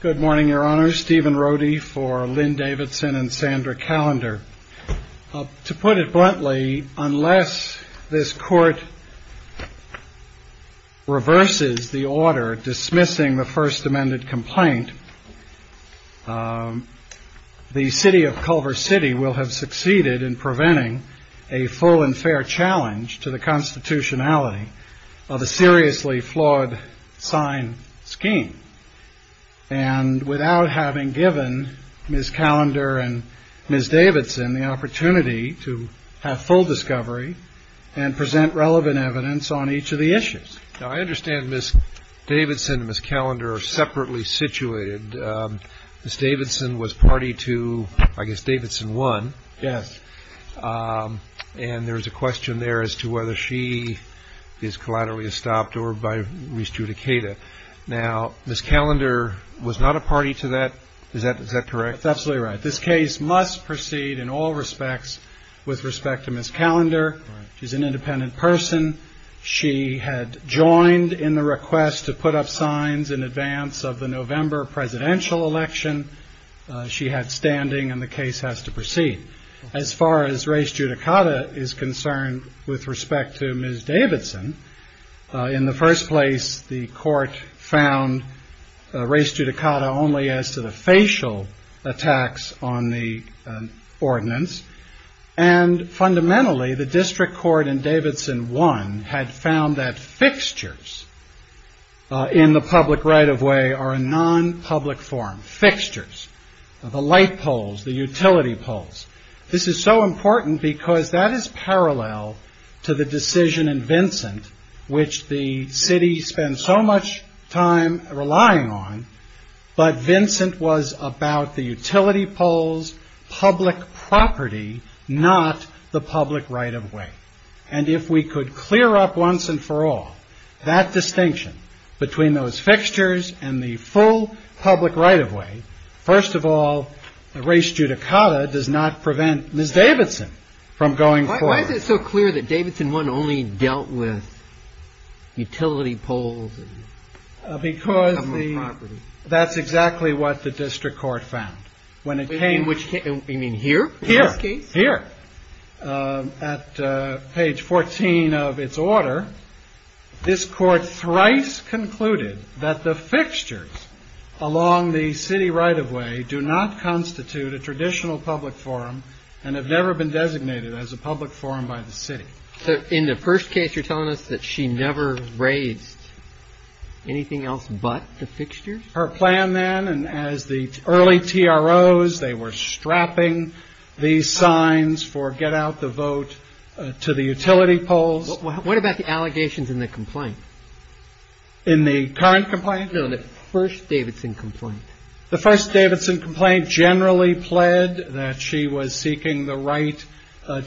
Good morning, Your Honor. Stephen Rohde for Lynn Davidson and Sandra Callender. To put it bluntly, unless this Court reverses the order dismissing the First Amendment complaint, the City of Culver City will have succeeded in preventing a full and fair challenge to the constitutionality of a seriously flawed sign scheme and without having given Ms. Callender and Ms. Davidson the opportunity to have full discovery and present relevant evidence on each of the issues. Now, I understand Ms. Davidson and Ms. Callender are separately situated. Ms. Davidson was whether she is collaterally estopped or by Raise Judicata. Now, Ms. Callender was not a party to that. Is that correct? That's absolutely right. This case must proceed in all respects with respect to Ms. Callender. She's an independent person. She had joined in the request to put up signs in advance of the November presidential election. She had standing and the case has to proceed. As far as Raise Judicata is concerned with respect to Ms. Davidson, in the first place the Court found Raise Judicata only as to the facial attacks on the ordinance. Fundamentally, the District Court in Davidson 1 had found that fixtures in the public right-of-way are non-public form, fixtures, the light poles, the utility poles. This is so important because that is parallel to the decision in Vincent which the city spent so much time relying on, but Vincent was about the utility poles, public property, not the public right-of-way. And if we could clear up once and for all that distinction between those fixtures and the full public right-of-way, first of all, Raise Judicata does not prevent Ms. Davidson from going forward. Why is it so clear that Davidson 1 only dealt with utility poles and public property? Because that's exactly what the District Court found. You mean here in this case? Here, at page 14 of its order, this Court thrice concluded that the fixtures along the city right-of-way do not constitute a traditional public forum and have never been designated as a public forum by the city. In the first case, you're telling us that she never raised anything else but the fixtures? Her plan then, and as the early TROs, they were strapping these signs for get-out-the-vote to the utility poles. What about the allegations in the complaint? In the current complaint? No, in the first Davidson complaint. The first Davidson complaint generally pled that she was seeking the right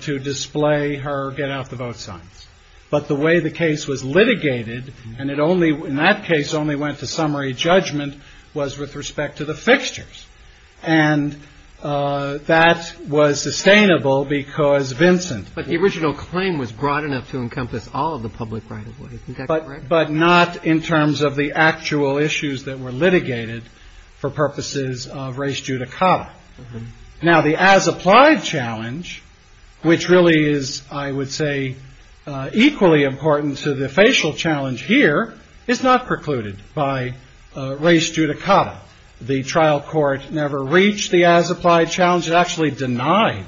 to display her get-out-the-vote signs. But the way the case was litigated, and it only — in that case, only went to summary judgment, was with respect to the fixtures. And that was sustainable because Vincent — But the original claim was broad enough to encompass all of the public right-of-ways. Isn't that correct? But not in terms of the actual issues that were litigated for purposes of race judicata. Now the as-applied challenge, which really is, I would say, equally important to the by race judicata. The trial court never reached the as-applied challenge. It actually denied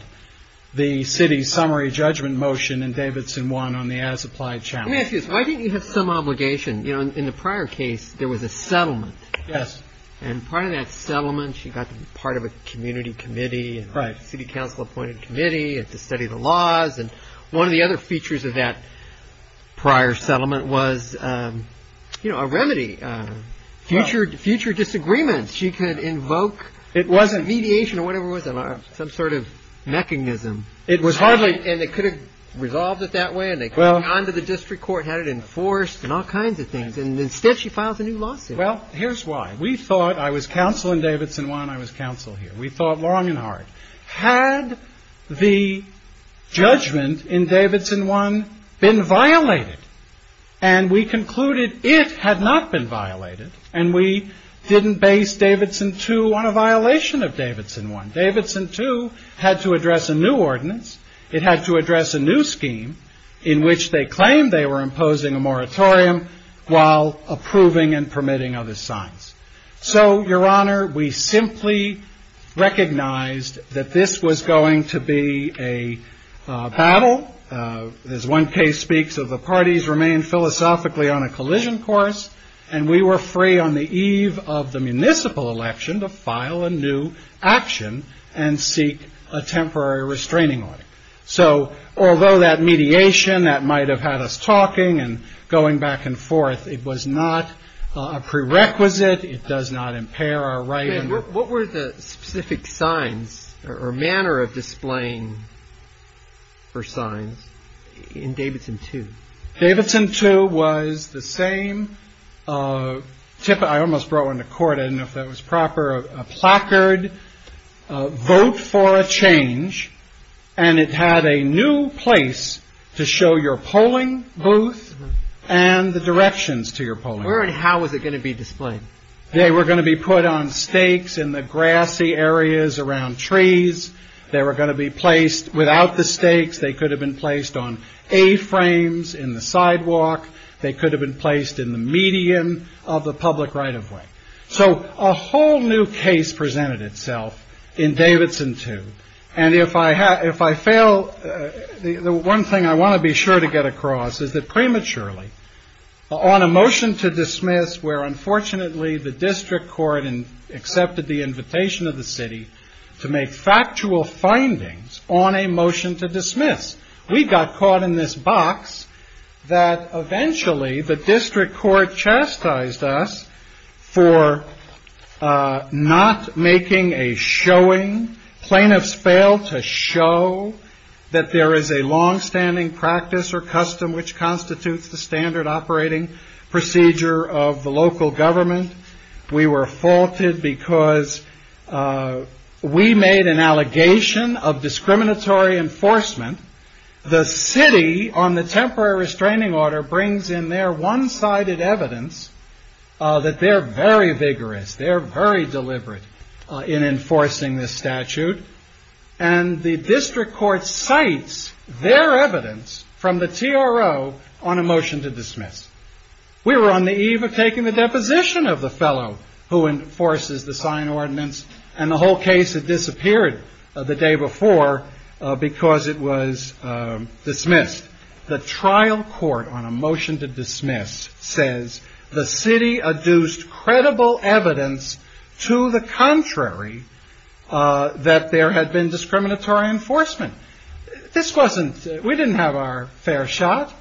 the city's summary judgment motion in Davidson 1 on the as-applied challenge. Let me ask you this. Why didn't you have some obligation? You know, in the prior case, there was a settlement. Yes. And part of that settlement, she got to be part of a community committee, a city council-appointed committee, had to study the laws. And one of the other features of that prior settlement was, you know, a remedy. Future disagreements. She could invoke — It wasn't — Mediation or whatever it was. Some sort of mechanism. It was hardly — And they could have resolved it that way. And they could have gone to the district court and had it enforced and all kinds of things. And instead, she files a new lawsuit. Well, here's why. We thought — I was counsel in Davidson 1. I was counsel here. We thought long and hard. Had the judgment in Davidson 1 been violated? And we concluded it had not been violated. And we didn't base Davidson 2 on a violation of Davidson 1. Davidson 2 had to address a new ordinance. It had to address a new scheme in which they claimed they were imposing a moratorium while approving and permitting other signs. So, Your Honor, we simply recognized that this was going to be a battle. As one case speaks of, the parties remained philosophically on a collision course. And we were free on the eve of the municipal election to file a new action and seek a temporary restraining order. So, although that mediation, that might have had us talking and going back and forth, it was not a prerequisite. It does not impair our right. What were the specific signs or manner of displaying for signs in Davidson 2? Davidson 2 was the same — I almost brought one to court. I don't know if that was proper — a placard, vote for a change. And it had a new place to show your polling booth and the directions to your polling booth. Where and how was it going to be displayed? They were going to be put on stakes in the grassy areas around trees. They were going to be placed without the stakes. They could have been placed on A-frames in the sidewalk. They could have been placed in the median of the public right-of-way. So a whole new case presented itself in Davidson 2. And if I fail, the one thing I want to be sure to get across is that prematurely, on a motion to dismiss, where unfortunately the district court accepted the invitation of the city to make factual findings on a motion to dismiss, we got caught in this box that eventually the district court chastised us for not making a showing. Plaintiffs fail to show that there is a long-standing practice or custom which constitutes the standard operating procedure of the local government. We were faulted because we made an allegation of discriminatory enforcement. The city on the temporary restraining order brings in their one-sided evidence that they are very vigorous. They are very deliberate in enforcing this statute. And the district court cites their evidence from the TRO on a motion to dismiss. We were on the eve of taking the deposition of the fellow who enforces the sign ordinance and the whole case had been dismissed. The trial court on a motion to dismiss says the city adduced credible evidence to the contrary that there had been discriminatory enforcement. This wasn't, we didn't have our fair shot.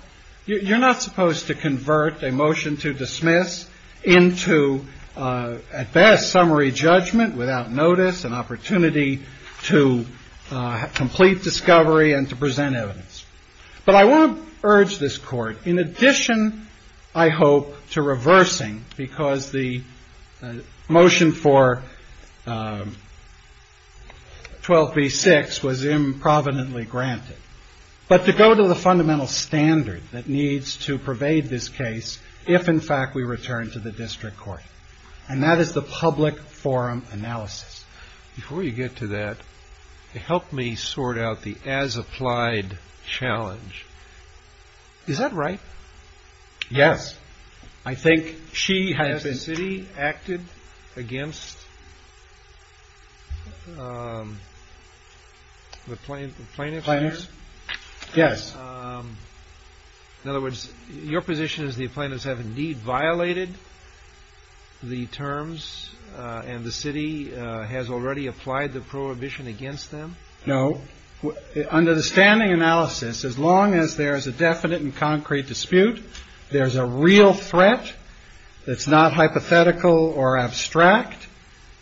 You're not supposed to convert a motion to dismiss into, at best, summary judgment without notice, an opportunity to complete discovery and to present evidence. But I won't urge this court, in addition, I hope, to reversing because the motion for 12b-6 was improvidently granted, but to go to the fundamental standard that needs to pervade this case if, in fact, we return to the district court. And that challenge. Is that right? Yes. I think she has been. Has the city acted against the plaintiffs? Plaintiffs? Yes. In other words, your position is the plaintiffs have, indeed, violated the terms and the city has already applied the prohibition against them? No. Under the standing analysis, as long as there is a definite and concrete dispute, there's a real threat that's not hypothetical or abstract.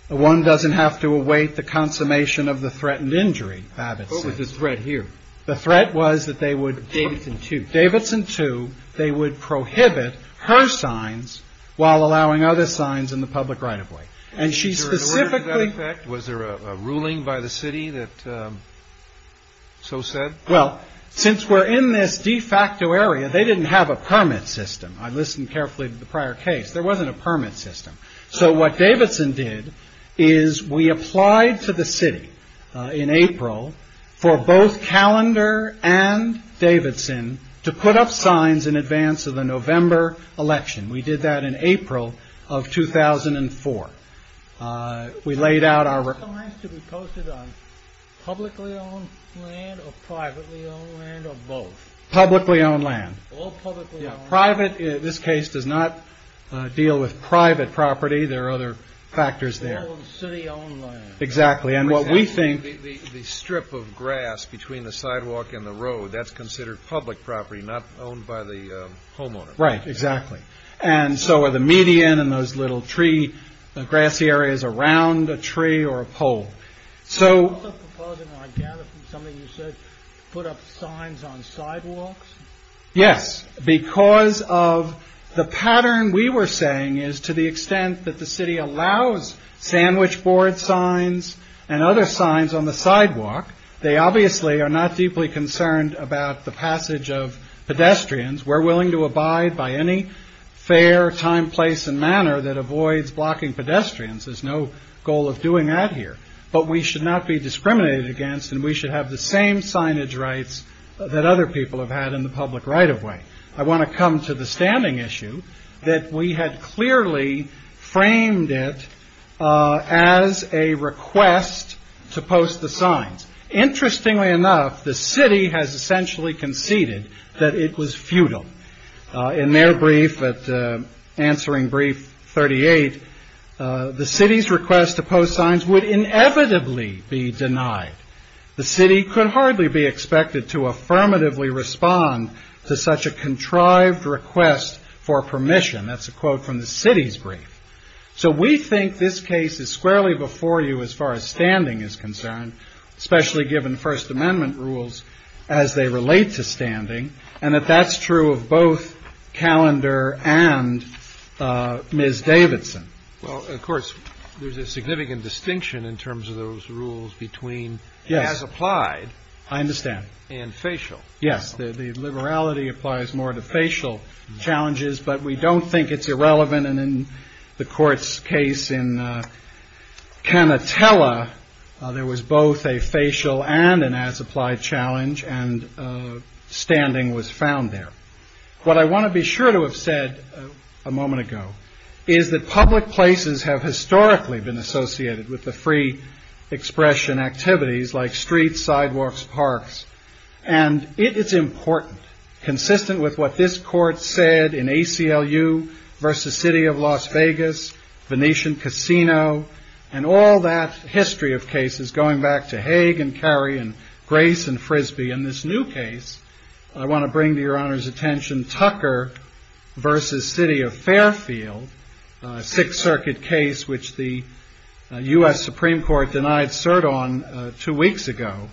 One doesn't have to await the consummation of the threatened injury, Babbitt says. What was the threat here? The threat was that they would... Davidson 2. Davidson 2, they would prohibit her signs while allowing other signs in the public right-of-way. And she specifically... Was there a ruling by the city that so said? Well, since we're in this de facto area, they didn't have a permit system. I listened carefully to the prior case. There wasn't a permit system. So what Davidson did is we applied to the city in April for both Calendar and Davidson to put up signs in advance of the November election. We did that in April of 2004. We laid out our... Signs to be posted on publicly-owned land or privately-owned land or both? Publicly-owned land. All publicly-owned land. Yeah, private. This case does not deal with private property. There are other factors there. All city-owned land. Exactly. And what we think... The strip of grass between the sidewalk and the road, that's considered public property, not owned by the homeowner. Right, exactly. And so are the median and those little tree, grassy areas around a tree or a pole. So... Also proposing, I gather from something you said, put up signs on sidewalks? Yes, because of the pattern we were saying is to the extent that the city allows sandwich board signs and other signs on the sidewalk, they obviously are not deeply concerned about the passage of pedestrians. We're willing to abide by any fair time, place, and manner that avoids blocking pedestrians. There's no goal of doing that here. But we should not be discriminated against and we should have the same signage rights that other people have had in the public right of way. I want to come to the standing issue that we had clearly framed it as a request to post the signs. Interestingly enough, the city has essentially conceded that it was futile. In their brief at answering brief 38, the city's request to post signs would inevitably be denied. The city could hardly be expected to affirmatively respond to such a contrived request for permission. That's a quote from the city's brief. So we think this case is squarely before you as far as standing is concerned, especially given First Amendment rules as they relate to standing, and that that's true of both Calendar and Ms. Davidson. Well, of course, there's a significant distinction in terms of those rules between as applied. I understand. And facial. Yes. The liberality applies more to facial challenges, but we don't think it's irrelevant and in the court's case in Canatella, there was both a facial and an as applied challenge and standing was found there. What I want to be sure to have said a moment ago is that public places have historically been associated with the free expression activities like streets, sidewalks, parks. And it is important, consistent with what this court said in ACLU versus City of Las Vegas, Venetian Casino, and all that history of cases going back to Hague and Cary and Grace and Frisbee. In this new case, I want to bring to your honor's attention Tucker versus City of Fairfield, Sixth Circuit case, which the U.S. Supreme Court denied cert on two weeks ago,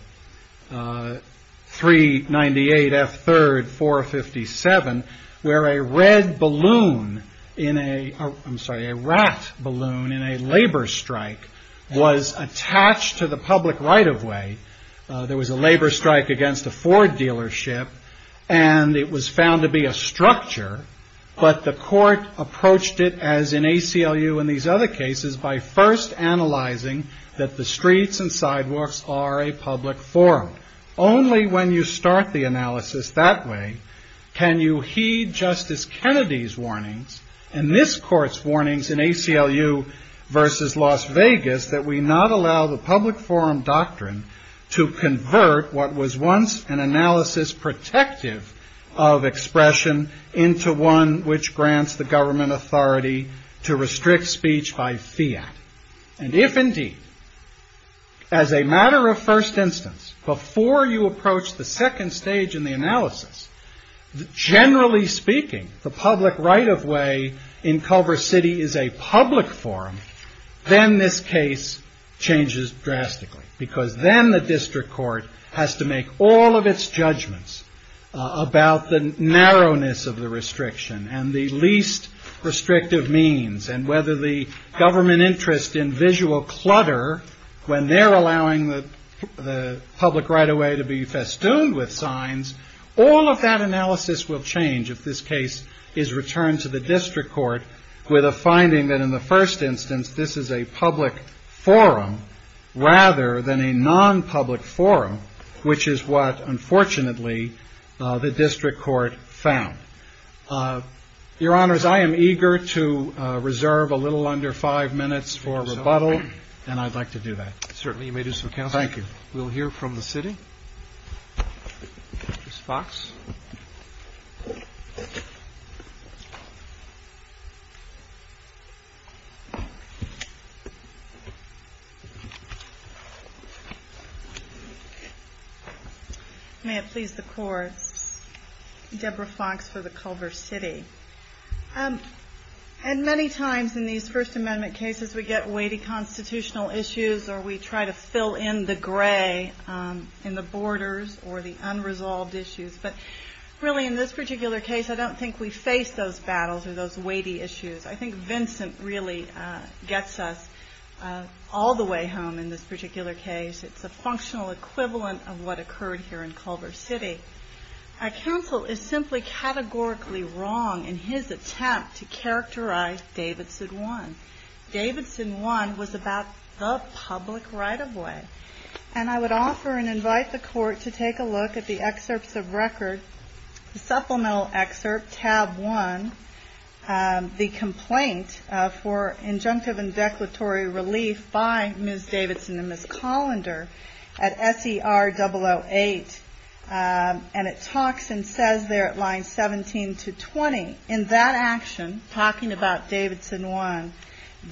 398 F3rd 457, where a red balloon in a, I'm sorry, a rat balloon in a labor strike was attached to the public right of way. There was a labor strike against a Ford dealership and it was found to be a structure, but the U.S. Supreme Court denied it as in ACLU and these other cases by first analyzing that the streets and sidewalks are a public forum. Only when you start the analysis that way can you heed Justice Kennedy's warnings and this court's warnings in ACLU versus Las Vegas that we not allow the public forum doctrine to convert what was once an analysis protective of expression into one which grants the government authority to restrict speech by fiat. And if indeed, as a matter of first instance, before you approach the second stage in the analysis, generally speaking, the public right of way in Culver City is a public forum, then this case changes drastically because then the district court has to make all of its judgments about the narrowness of the restriction and the least restrictive means and whether the government interest in visual clutter, when they're allowing the public right of way to be festooned with signs, all of that analysis will change if this case is returned to the district court with a finding that in the first instance this is a public forum rather than a non-public forum, which is what unfortunately the district court found. Your Honors, I am eager to reserve a little under five minutes for rebuttal, and I'd like to do that. Certainly. You may do so, Counselor. Thank you. We'll hear from the city. Ms. Fox. May it please the courts, Deborah Fox for the Culver City. And many times in these First Amendment cases we get weighty constitutional issues or we try to fill in the gray in the borders or the unresolved issues, but really in this case it's a functional equivalent of what occurred here in Culver City. A counsel is simply categorically wrong in his attempt to characterize Davidson One. Davidson One was about the public right of way. And I would offer and invite the court to take a look at the excerpts of record, the supplemental excerpt, tab one, the complaint for injunctive and declaratory relief by Ms. Davidson and Ms. Collender at SER008. And it talks and says there at line 17 to 20, in that action, talking about Davidson One,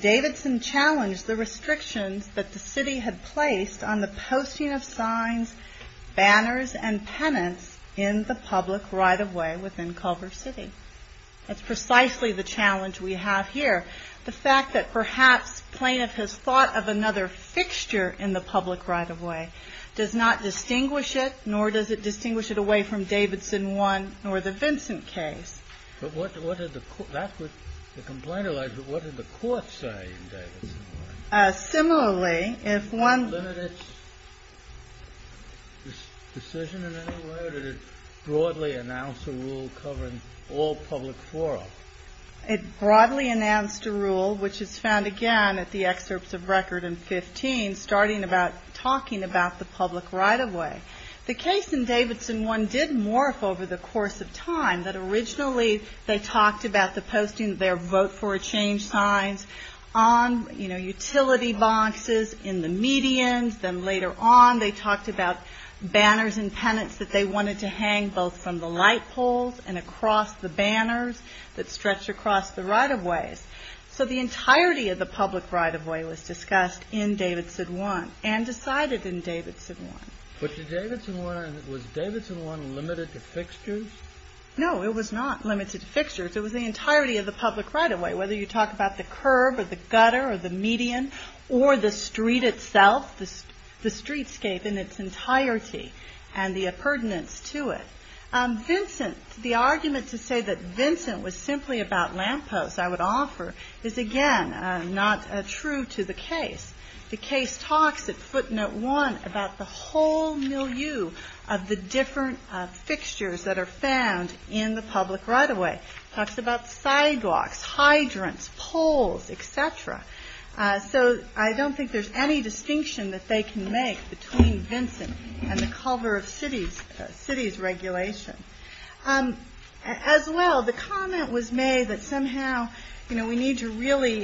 Davidson challenged the restrictions that the city had placed on the posting of signs, banners, and penance in the public right of way within Culver City. That's precisely the challenge we have here. The fact that perhaps plaintiff has thought of another fixture in the public right of way does not distinguish it, nor does it distinguish it away from Davidson One nor the Vincent case. But what did the court say in Davidson One? Similarly, if one... Was there a limited decision in any way, or did it broadly announce a rule covering all public forum? It broadly announced a rule, which is found again at the excerpts of record in 15, starting about talking about the public right of way. The case in Davidson One did morph over the years. Firstly, they talked about the posting of their vote for a change signs on utility boxes in the medians. Then later on, they talked about banners and penance that they wanted to hang both from the light poles and across the banners that stretch across the right of ways. So the entirety of the public right of way was discussed in Davidson One and decided in Davidson One. No, it was not limited to fixtures. It was the entirety of the public right of way, whether you talk about the curb or the gutter or the median or the street itself, the streetscape in its entirety and the pertinence to it. Vincent, the argument to say that Vincent was simply about lampposts, I would offer, is again not true to the case. The case talks at footnote one about the whole milieu of the different fixtures that are found in the public right of way. It talks about sidewalks, hydrants, poles, etc. So I don't think there's any distinction that they can make between Vincent and the cover of cities regulation. As well, the comment was made that somehow we need to really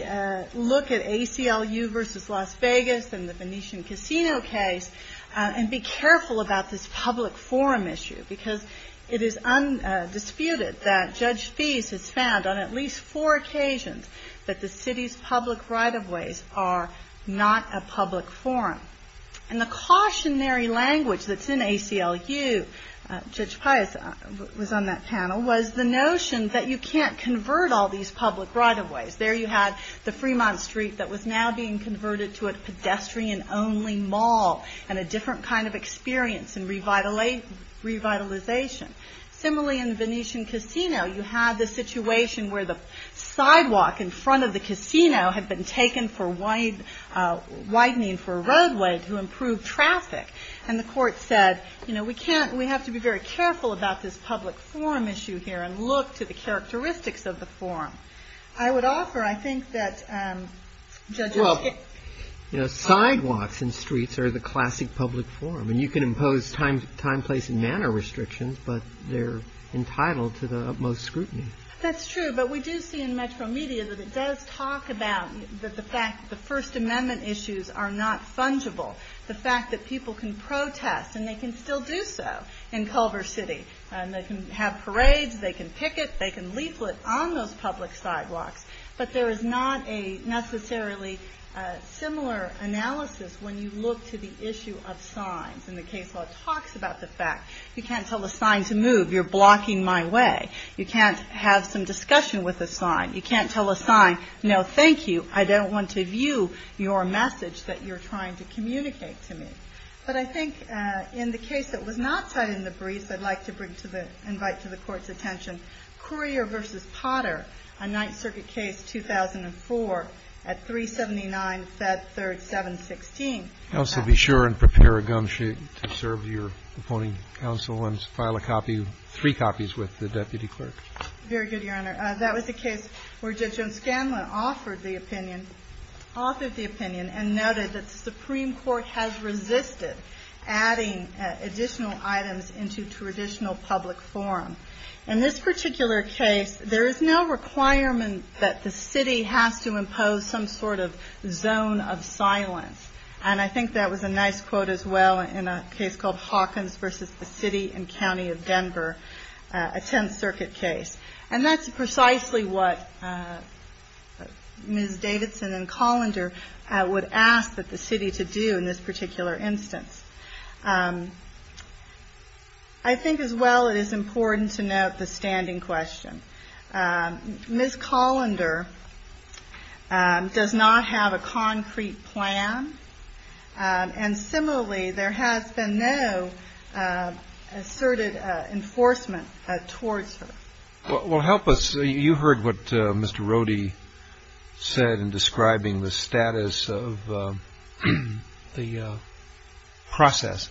look at ACLU versus Las Venetian Casino case and be careful about this public forum issue because it is undisputed that Judge Feist has found on at least four occasions that the city's public right of ways are not a public forum. And the cautionary language that's in ACLU, Judge Feist was on that panel, was the notion that you can't convert all these public right of ways. There you had the Fremont Street that was now being converted to a pedestrian only mall and a different kind of experience and revitalization. Similarly in the Venetian Casino, you had the situation where the sidewalk in front of the casino had been taken for widening for a roadway to improve traffic. And the court said, you know, we have to be very careful about this public forum issue here and look to the characteristics of the forum. I would offer, I think that Judge Feist... Well, you know, sidewalks and streets are the classic public forum. And you can impose time, place and manner restrictions, but they're entitled to the utmost scrutiny. That's true, but we do see in Metro Media that it does talk about the fact that the First Amendment issues are not fungible. The fact that people can protest and they can still do so in Culver City. And they can have parades, they can picket, they can leaflet on those public sidewalks. But there is not a necessarily similar analysis when you look to the issue of signs. And the case law talks about the fact you can't tell a sign to move, you're blocking my way. You can't have some discussion with a sign. You can't tell a sign, no, thank you, I don't want to view your message that you're trying to communicate to me. But I think in the case that was not cited in the briefs, I'd like to bring to the, invite to the Court's attention, Courier v. Potter, a Ninth Circuit case, 2004, at 379-Fed-3-7-16. Counsel, be sure and prepare a gum sheet to serve your opponent counsel and file a copy, three copies with the deputy clerk. Very good, Your Honor. That was the case where Judge O'Scanlan offered the opinion, offered the opinion and noted that the Supreme Court has resisted adding additional items into traditional public forum. In this particular case, there is no requirement that the city has to impose some sort of zone of silence. And I think that was a nice quote as well in a case called Hawkins v. The City and County of Denver, a Tenth Circuit case. And that's precisely what Ms. Davidson and Colander would have asked that the city to do in this particular instance. I think as well it is important to note the standing question. Ms. Colander does not have a concrete plan. And similarly, there has been no asserted enforcement towards her. Well, help us. You heard what Mr. Rohde said in describing the status of the process.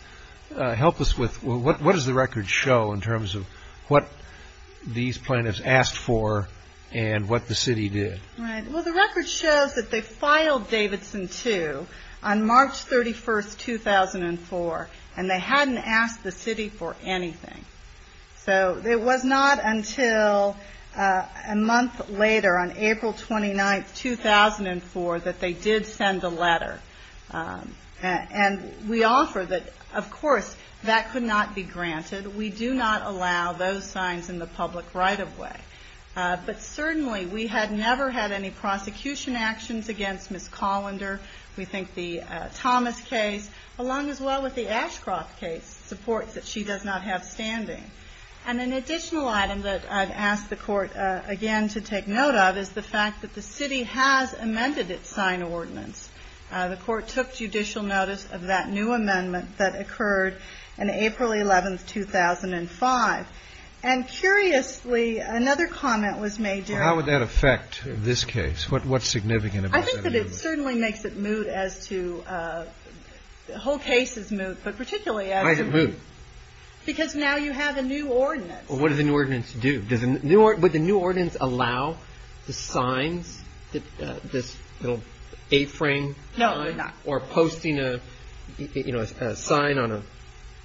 Help us with what does the record show in terms of what these plaintiffs asked for and what the city did? Well, the record shows that they filed Davidson 2 on March 31st, 2004, and they hadn't asked the city for anything. So it was not until a month later, on April 29th, 2004, that they did send a letter. And we offer that, of course, that could not be granted. We do not allow those signs in the public right-of-way. But certainly, we had never had any prosecution actions against Ms. Colander. We think the Thomas case, along as well with the Ashcroft case, supports that she does not have standing. And an additional item that I've asked the Court, again, to take note of is the fact that the city has amended its sign ordinance. The Court took judicial notice of that new amendment that occurred on April 11th, 2005. And curiously, another comment was made during the hearing. Well, how would that affect this case? What's significant about that amendment? It certainly makes it moot as to, the whole case is moot, but particularly as to... Why is it moot? Because now you have a new ordinance. Well, what does the new ordinance do? Does the new, would the new ordinance allow the signs, this little A-frame sign? No, it would not. Or posting a, you know, a sign on a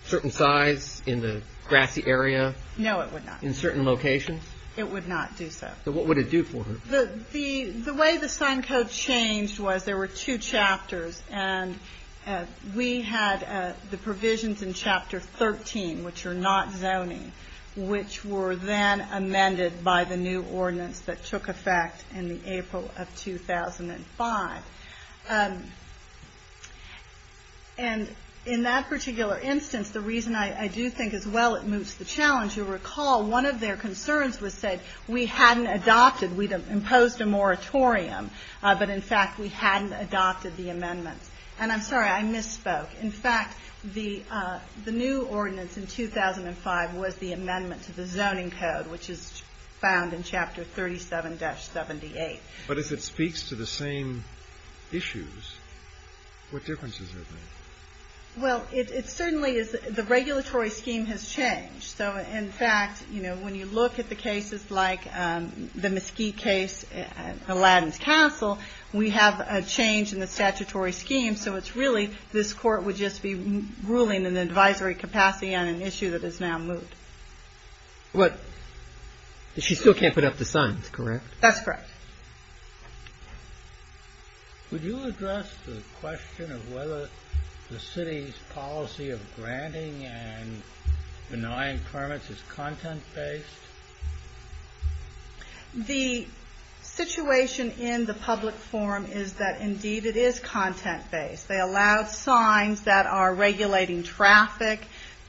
certain size in the grassy area? No, it would not. In certain locations? It would not do so. So what would it do for her? The way the sign code changed was there were two chapters. And we had the provisions in Chapter 13, which are not zoning, which were then amended by the new ordinance that took effect in the April of 2005. And in that particular instance, the reason I do think as well it moots the challenge, you'll recall, one of their concerns was said, we hadn't adopted, we'd imposed a moratorium, but in fact we hadn't adopted the amendments. And I'm sorry, I misspoke. In fact, the new ordinance in 2005 was the amendment to the zoning code, which is found in Chapter 37-78. But if it speaks to the same issues, what difference does it make? Well, it certainly is, the regulatory scheme has changed. So in fact, you know, when you look at the cases like the Mesquite case, Aladdin's Castle, we have a change in the statutory scheme. So it's really, this court would just be ruling in an advisory capacity on an issue that is now moot. But she still can't put up the signs, correct? That's correct. Would you address the question of whether the city's policy of granting and denying permits is content-based? The situation in the public forum is that indeed it is content-based. They allowed signs that are regulating traffic,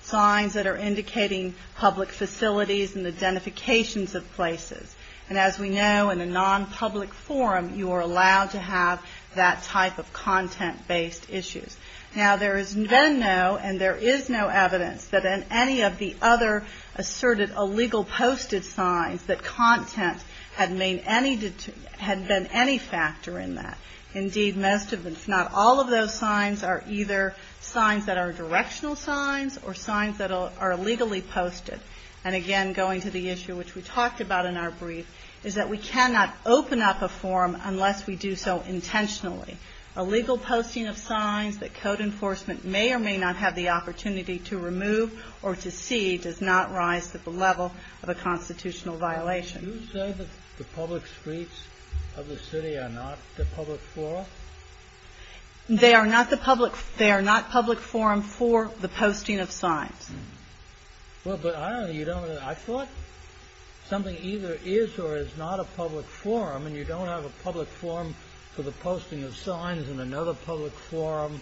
signs that are indicating public facilities and identifications of places. And as we know, in a non-public forum, you are allowed to have that type of content-based issues. Now there has been no, and there is no evidence that in any of the other asserted illegal posted signs that content had been any factor in that. Indeed, most of them, if not all of those signs are either signs that are directional signs or signs that are illegally posted. And again, going to the issue which we talked about in our brief, is that we cannot open up a forum unless we do so intentionally. Illegal posting of signs that code enforcement may or may not have the opportunity to remove or to see does not rise to the level of a constitutional violation. Do you say that the public streets of the city are not the public forum? They are not the public, they are not public forum for the posting of signs. Well, but I thought something either is or is not a public forum and you don't have a public forum for the posting of signs and another public forum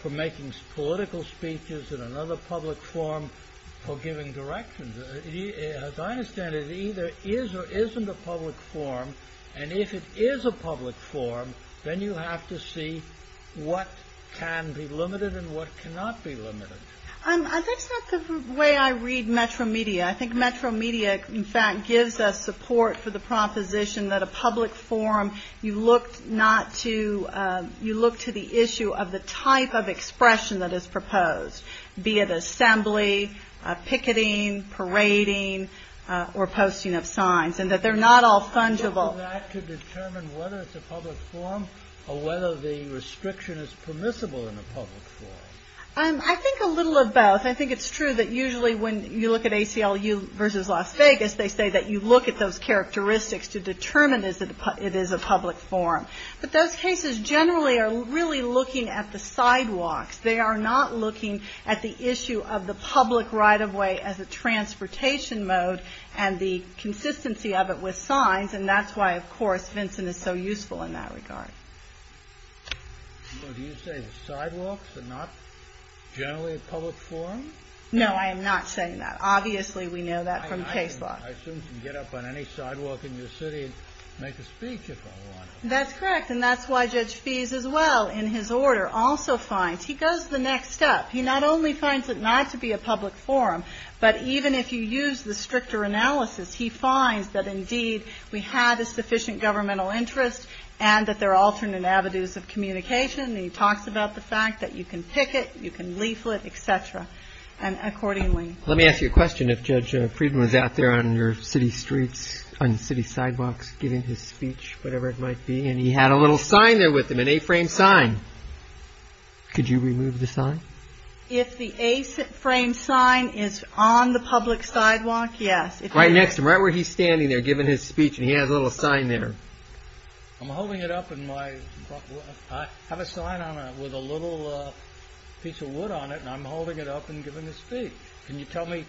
for making political speeches and another public forum for giving directions. As I understand it, it either is or isn't a public forum and if it is a public forum, then you have to see what can be limited and what cannot be limited. That's not the way I read Metro Media. I think Metro Media, in fact, gives us support for the proposition that a public forum, you look to the issue of the type of expression that is proposed, be it assembly, picketing, parading, or posting of signs and that they are not all fungible. Do you look at that to determine whether it's a public forum or whether the restriction is permissible in a public forum? I think a little of both. I think it's true that usually when you look at ACLU versus Las Vegas, they say that you look at those characteristics to determine if it is a public forum. But those cases generally are really looking at the sidewalks. They are not looking at the issue of the public right of way as a transportation mode and the consistency of it with signs and that's why, of course, Vincent is so useful in that regard. Do you say the sidewalks are not generally a public forum? No, I am not saying that. Obviously, we know that from case law. I assume you can get up on any sidewalk in your city and make a speech if I want to. That's correct and that's why Judge Fees, as well, in his order, also finds, he goes the next step. He not only finds it not to be a public forum, but even if you use the stricter analysis, he finds that indeed we have a sufficient governmental interest and that there are alternate avenues of communication. He talks about the fact that you can pick it, you can leaflet, etc. and accordingly. Let me ask you a question. If Judge Friedman was out there on your city streets, on city sidewalks, giving his speech, whatever it might be, and he had a little sign there with him, an A-frame sign, could you remove the sign? If the A-frame sign is on the public sidewalk, yes. Right next to him, right where he's standing there giving his speech and he has a little sign there. I'm holding it up in my, I have a sign on it with a little piece of wood on it and I'm holding it up and giving a speech. Can you tell me,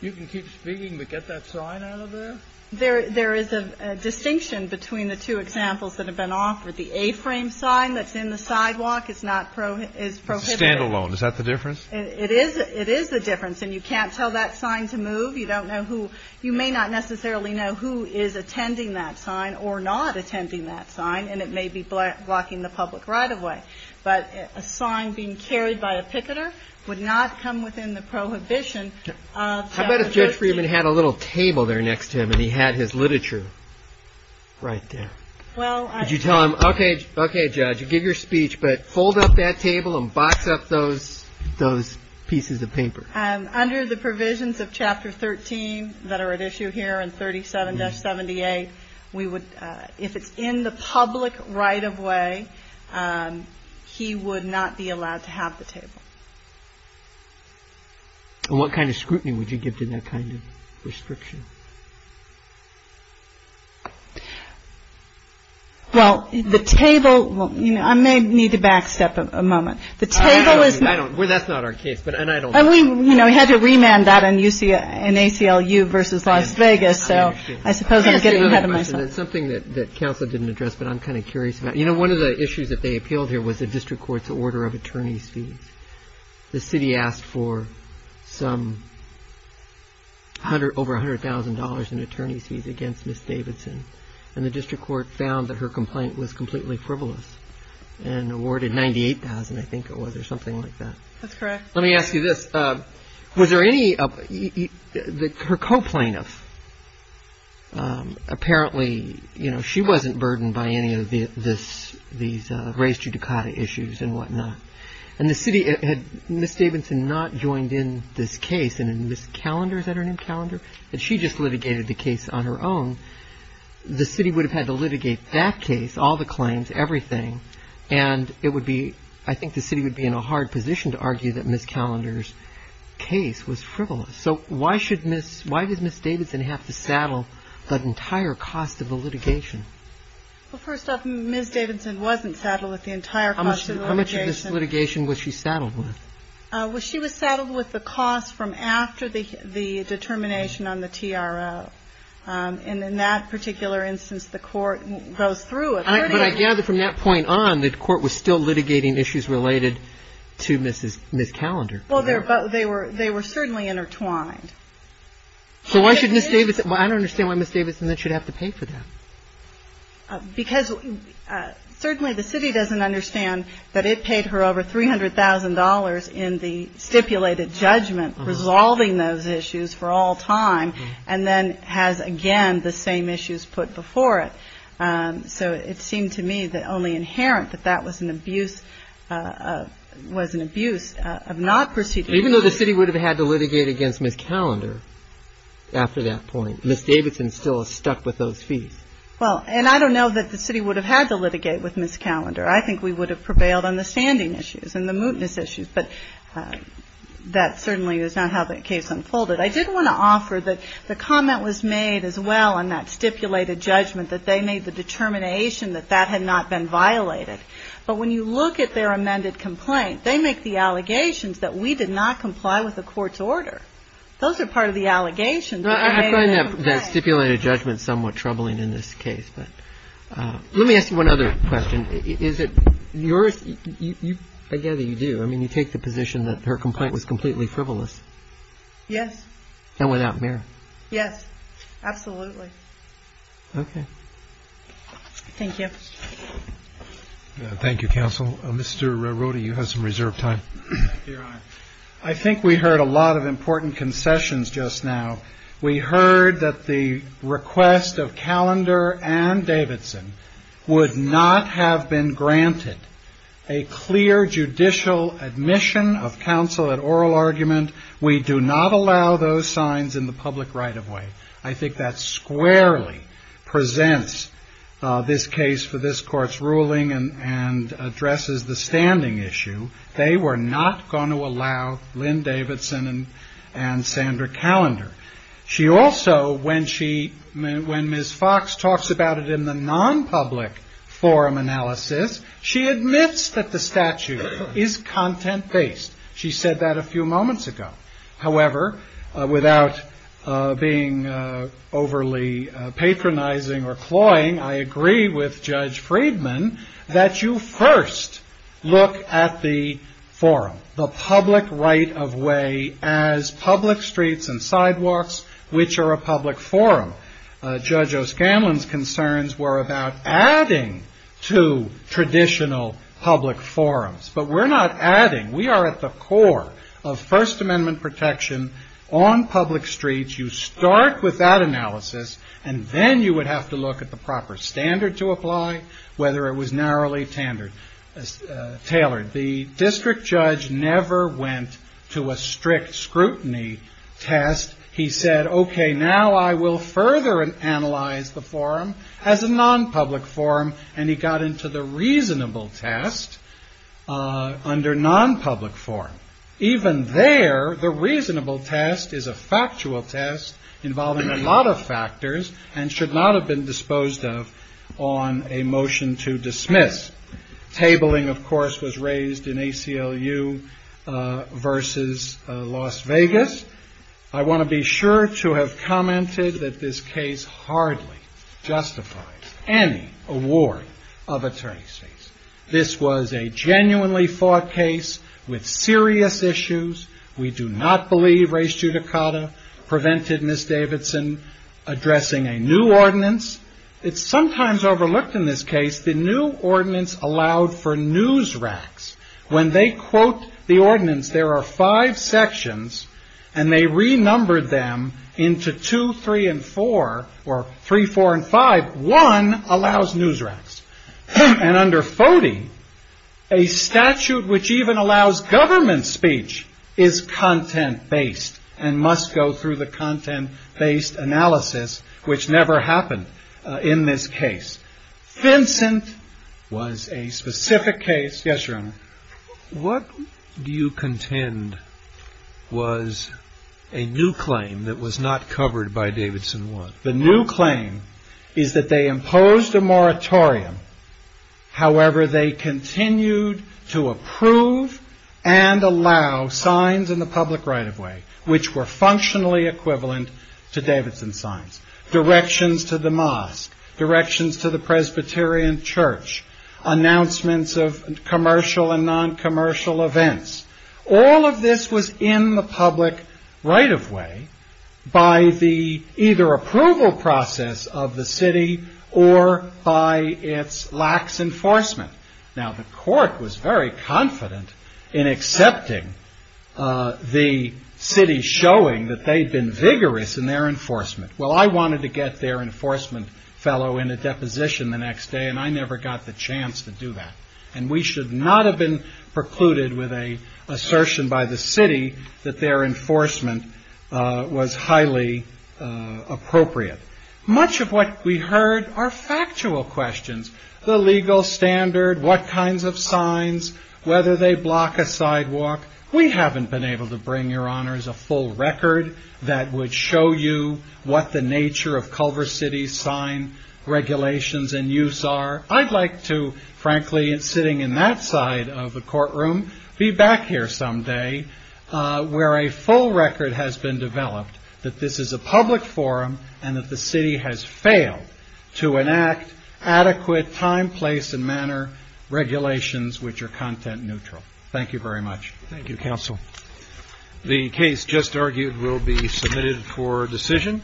you can keep speaking, but get that sign out of there? There is a distinction between the two examples that have been offered. The A-frame sign that's in the sidewalk is not, is prohibited. Stand-alone. Is that the difference? It is the difference and you can't tell that sign to move. You don't know who, you may not necessarily know who is attending that sign or not attending that sign and it may be blocking the public right-of-way. But a sign being carried by a picketer would not come within the prohibition of Judge Friedman. How about if Judge Friedman had a little table there next to him and he had his literature right there? Well, I. Could you tell him, okay, okay Judge, you give your speech, but fold up that table and box up those, those pieces of paper. Under the provisions of Chapter 13 that are at issue here in 37-78, we would, if it's in the public right-of-way, he would not be allowed to have the table. And what kind of scrutiny would you give to that kind of restriction? Well, the table, I may need to back step a moment. The table is. Well, that's not our case, but I don't. We had to remand that in ACLU versus Las Vegas, so I suppose I'm getting ahead of myself. Something that counsel didn't address, but I'm kind of curious about, you know, one of the issues that they appealed here was the district court's order of attorney's fees. The city asked for some hundred, over $100,000 in attorney's fees against Miss Davidson and the district court found that her complaint was completely frivolous and awarded 98,000, I think it was, or something like that. That's correct. Let me ask you this. Was there any, her co-plaintiff, apparently, you know, she wasn't burdened by any of this, these race judicata issues and whatnot. And the city, had Miss Davidson not joined in this case and in this calendar, is that her name, calendar, that she just litigated the case on her own, the city would have had to litigate that case, all the claims, everything, and it would be, I think the city would be in a hard position to argue that Miss Callender's case was frivolous. So why should Miss, why does Miss Davidson have to saddle the entire cost of the litigation? Well, first off, Miss Davidson wasn't saddled with the entire cost of the litigation. How much of this litigation was she saddled with? Well, she was saddled with the cost from after the determination on the TRO. And in that particular instance, the Court goes through a 30-year period. But I gather from that point on, the Court was still litigating issues related to Miss Callender. Well, they were certainly intertwined. So why should Miss Davidson, I don't understand why Miss Davidson should have to pay for that. Because certainly the city doesn't understand that it paid her over $300,000 in the stipulated judgment resolving those issues for all time and then has, again, the same issues put before it. So it seemed to me that only inherent that that was an abuse of not proceeding. Even though the city would have had to litigate against Miss Callender after that point, Miss Davidson still is stuck with those fees. Well, and I don't know that the city would have had to litigate with Miss Callender. I think we would have prevailed on the standing issues and the mootness issues. But that certainly is not how the case unfolded. I did want to offer that the comment was made as well on that stipulated judgment, that they made the determination that that had not been violated. But when you look at their amended complaint, they make the allegations that we did not comply with the Court's order. Those are part of the allegations. I find that stipulated judgment somewhat troubling in this case. But let me ask you one other question. I gather you do. I mean, you take the position that her complaint was completely frivolous. Yes. And without merit. Yes. Absolutely. Okay. Thank you. Thank you, Counsel. Mr. Rohde, you have some reserved time. I think we heard a lot of important concessions just now. We heard that the request of Callender and Davidson would not have been granted a clear judicial admission of counsel at oral argument. We do not allow those signs in the public right of way. I think that squarely presents this case for this Court's ruling and addresses the standing issue. They were not going to allow Lynn Davidson and Sandra Callender. She also, when Ms. Fox talks about it in the non-public forum analysis, she admits that the statute is content-based. She said that a few moments ago. However, without being overly patronizing or cloying, I agree with Judge Friedman that you first look at the forum, the public right of way as public streets and sidewalks, which are a public forum. Judge O'Scanlan's concerns were about adding to traditional public forums. But we're not adding. We are at the core of First Amendment protection on public streets. You start with that analysis, and then you would have to look at the proper standard to apply, whether it was narrowly tailored. The district judge never went to a strict scrutiny test. He said, OK, now I will further analyze the forum as a non-public forum, and he got into the reasonable test under non-public forum. Even there, the reasonable test is a factual test involving a lot of factors and should not have been disposed of on a motion to dismiss. Tabling, of course, was raised in ACLU versus Las Vegas. I want to be sure to have commented that this case hardly justifies any award of attorney's fees. This was a genuinely fought case with serious issues. We do not believe res judicata prevented Ms. Davidson addressing a new ordinance. It's sometimes overlooked in this case, the new ordinance allowed for news racks. When they quote the ordinance, there are five sections, and they renumbered them into two, three, and four, or three, four, and five. One allows news racks. And under FODI, a statute which even allows government speech is content-based and must go through the content-based analysis, which never happened in this case. Vincent was a specific case. Yes, Your Honor. What do you contend was a new claim that was not covered by Davidson 1? However, they continued to approve and allow signs in the public right-of-way, which were functionally equivalent to Davidson signs. Directions to the mosque, directions to the Presbyterian church, announcements of commercial and non-commercial events. All of this was in the public right-of-way by the either approval process of the city or by its lax enforcement. Now, the court was very confident in accepting the city showing that they'd been vigorous in their enforcement. Well, I wanted to get their enforcement fellow in a deposition the next day, and I never got the chance to do that. And we should not have been precluded with an assertion by the city that their enforcement was highly appropriate. Much of what we heard are factual questions. The legal standard, what kinds of signs, whether they block a sidewalk. We haven't been able to bring, Your Honors, a full record that would show you what the nature of Culver City's sign regulations and use are. I'd like to, frankly, sitting in that side of the courtroom, be back here someday where a full record has been developed that this is a public forum and that the city has failed to enact adequate time, place, and manner regulations which are content neutral. Thank you very much. Thank you, Counsel. The case just argued will be submitted for decision.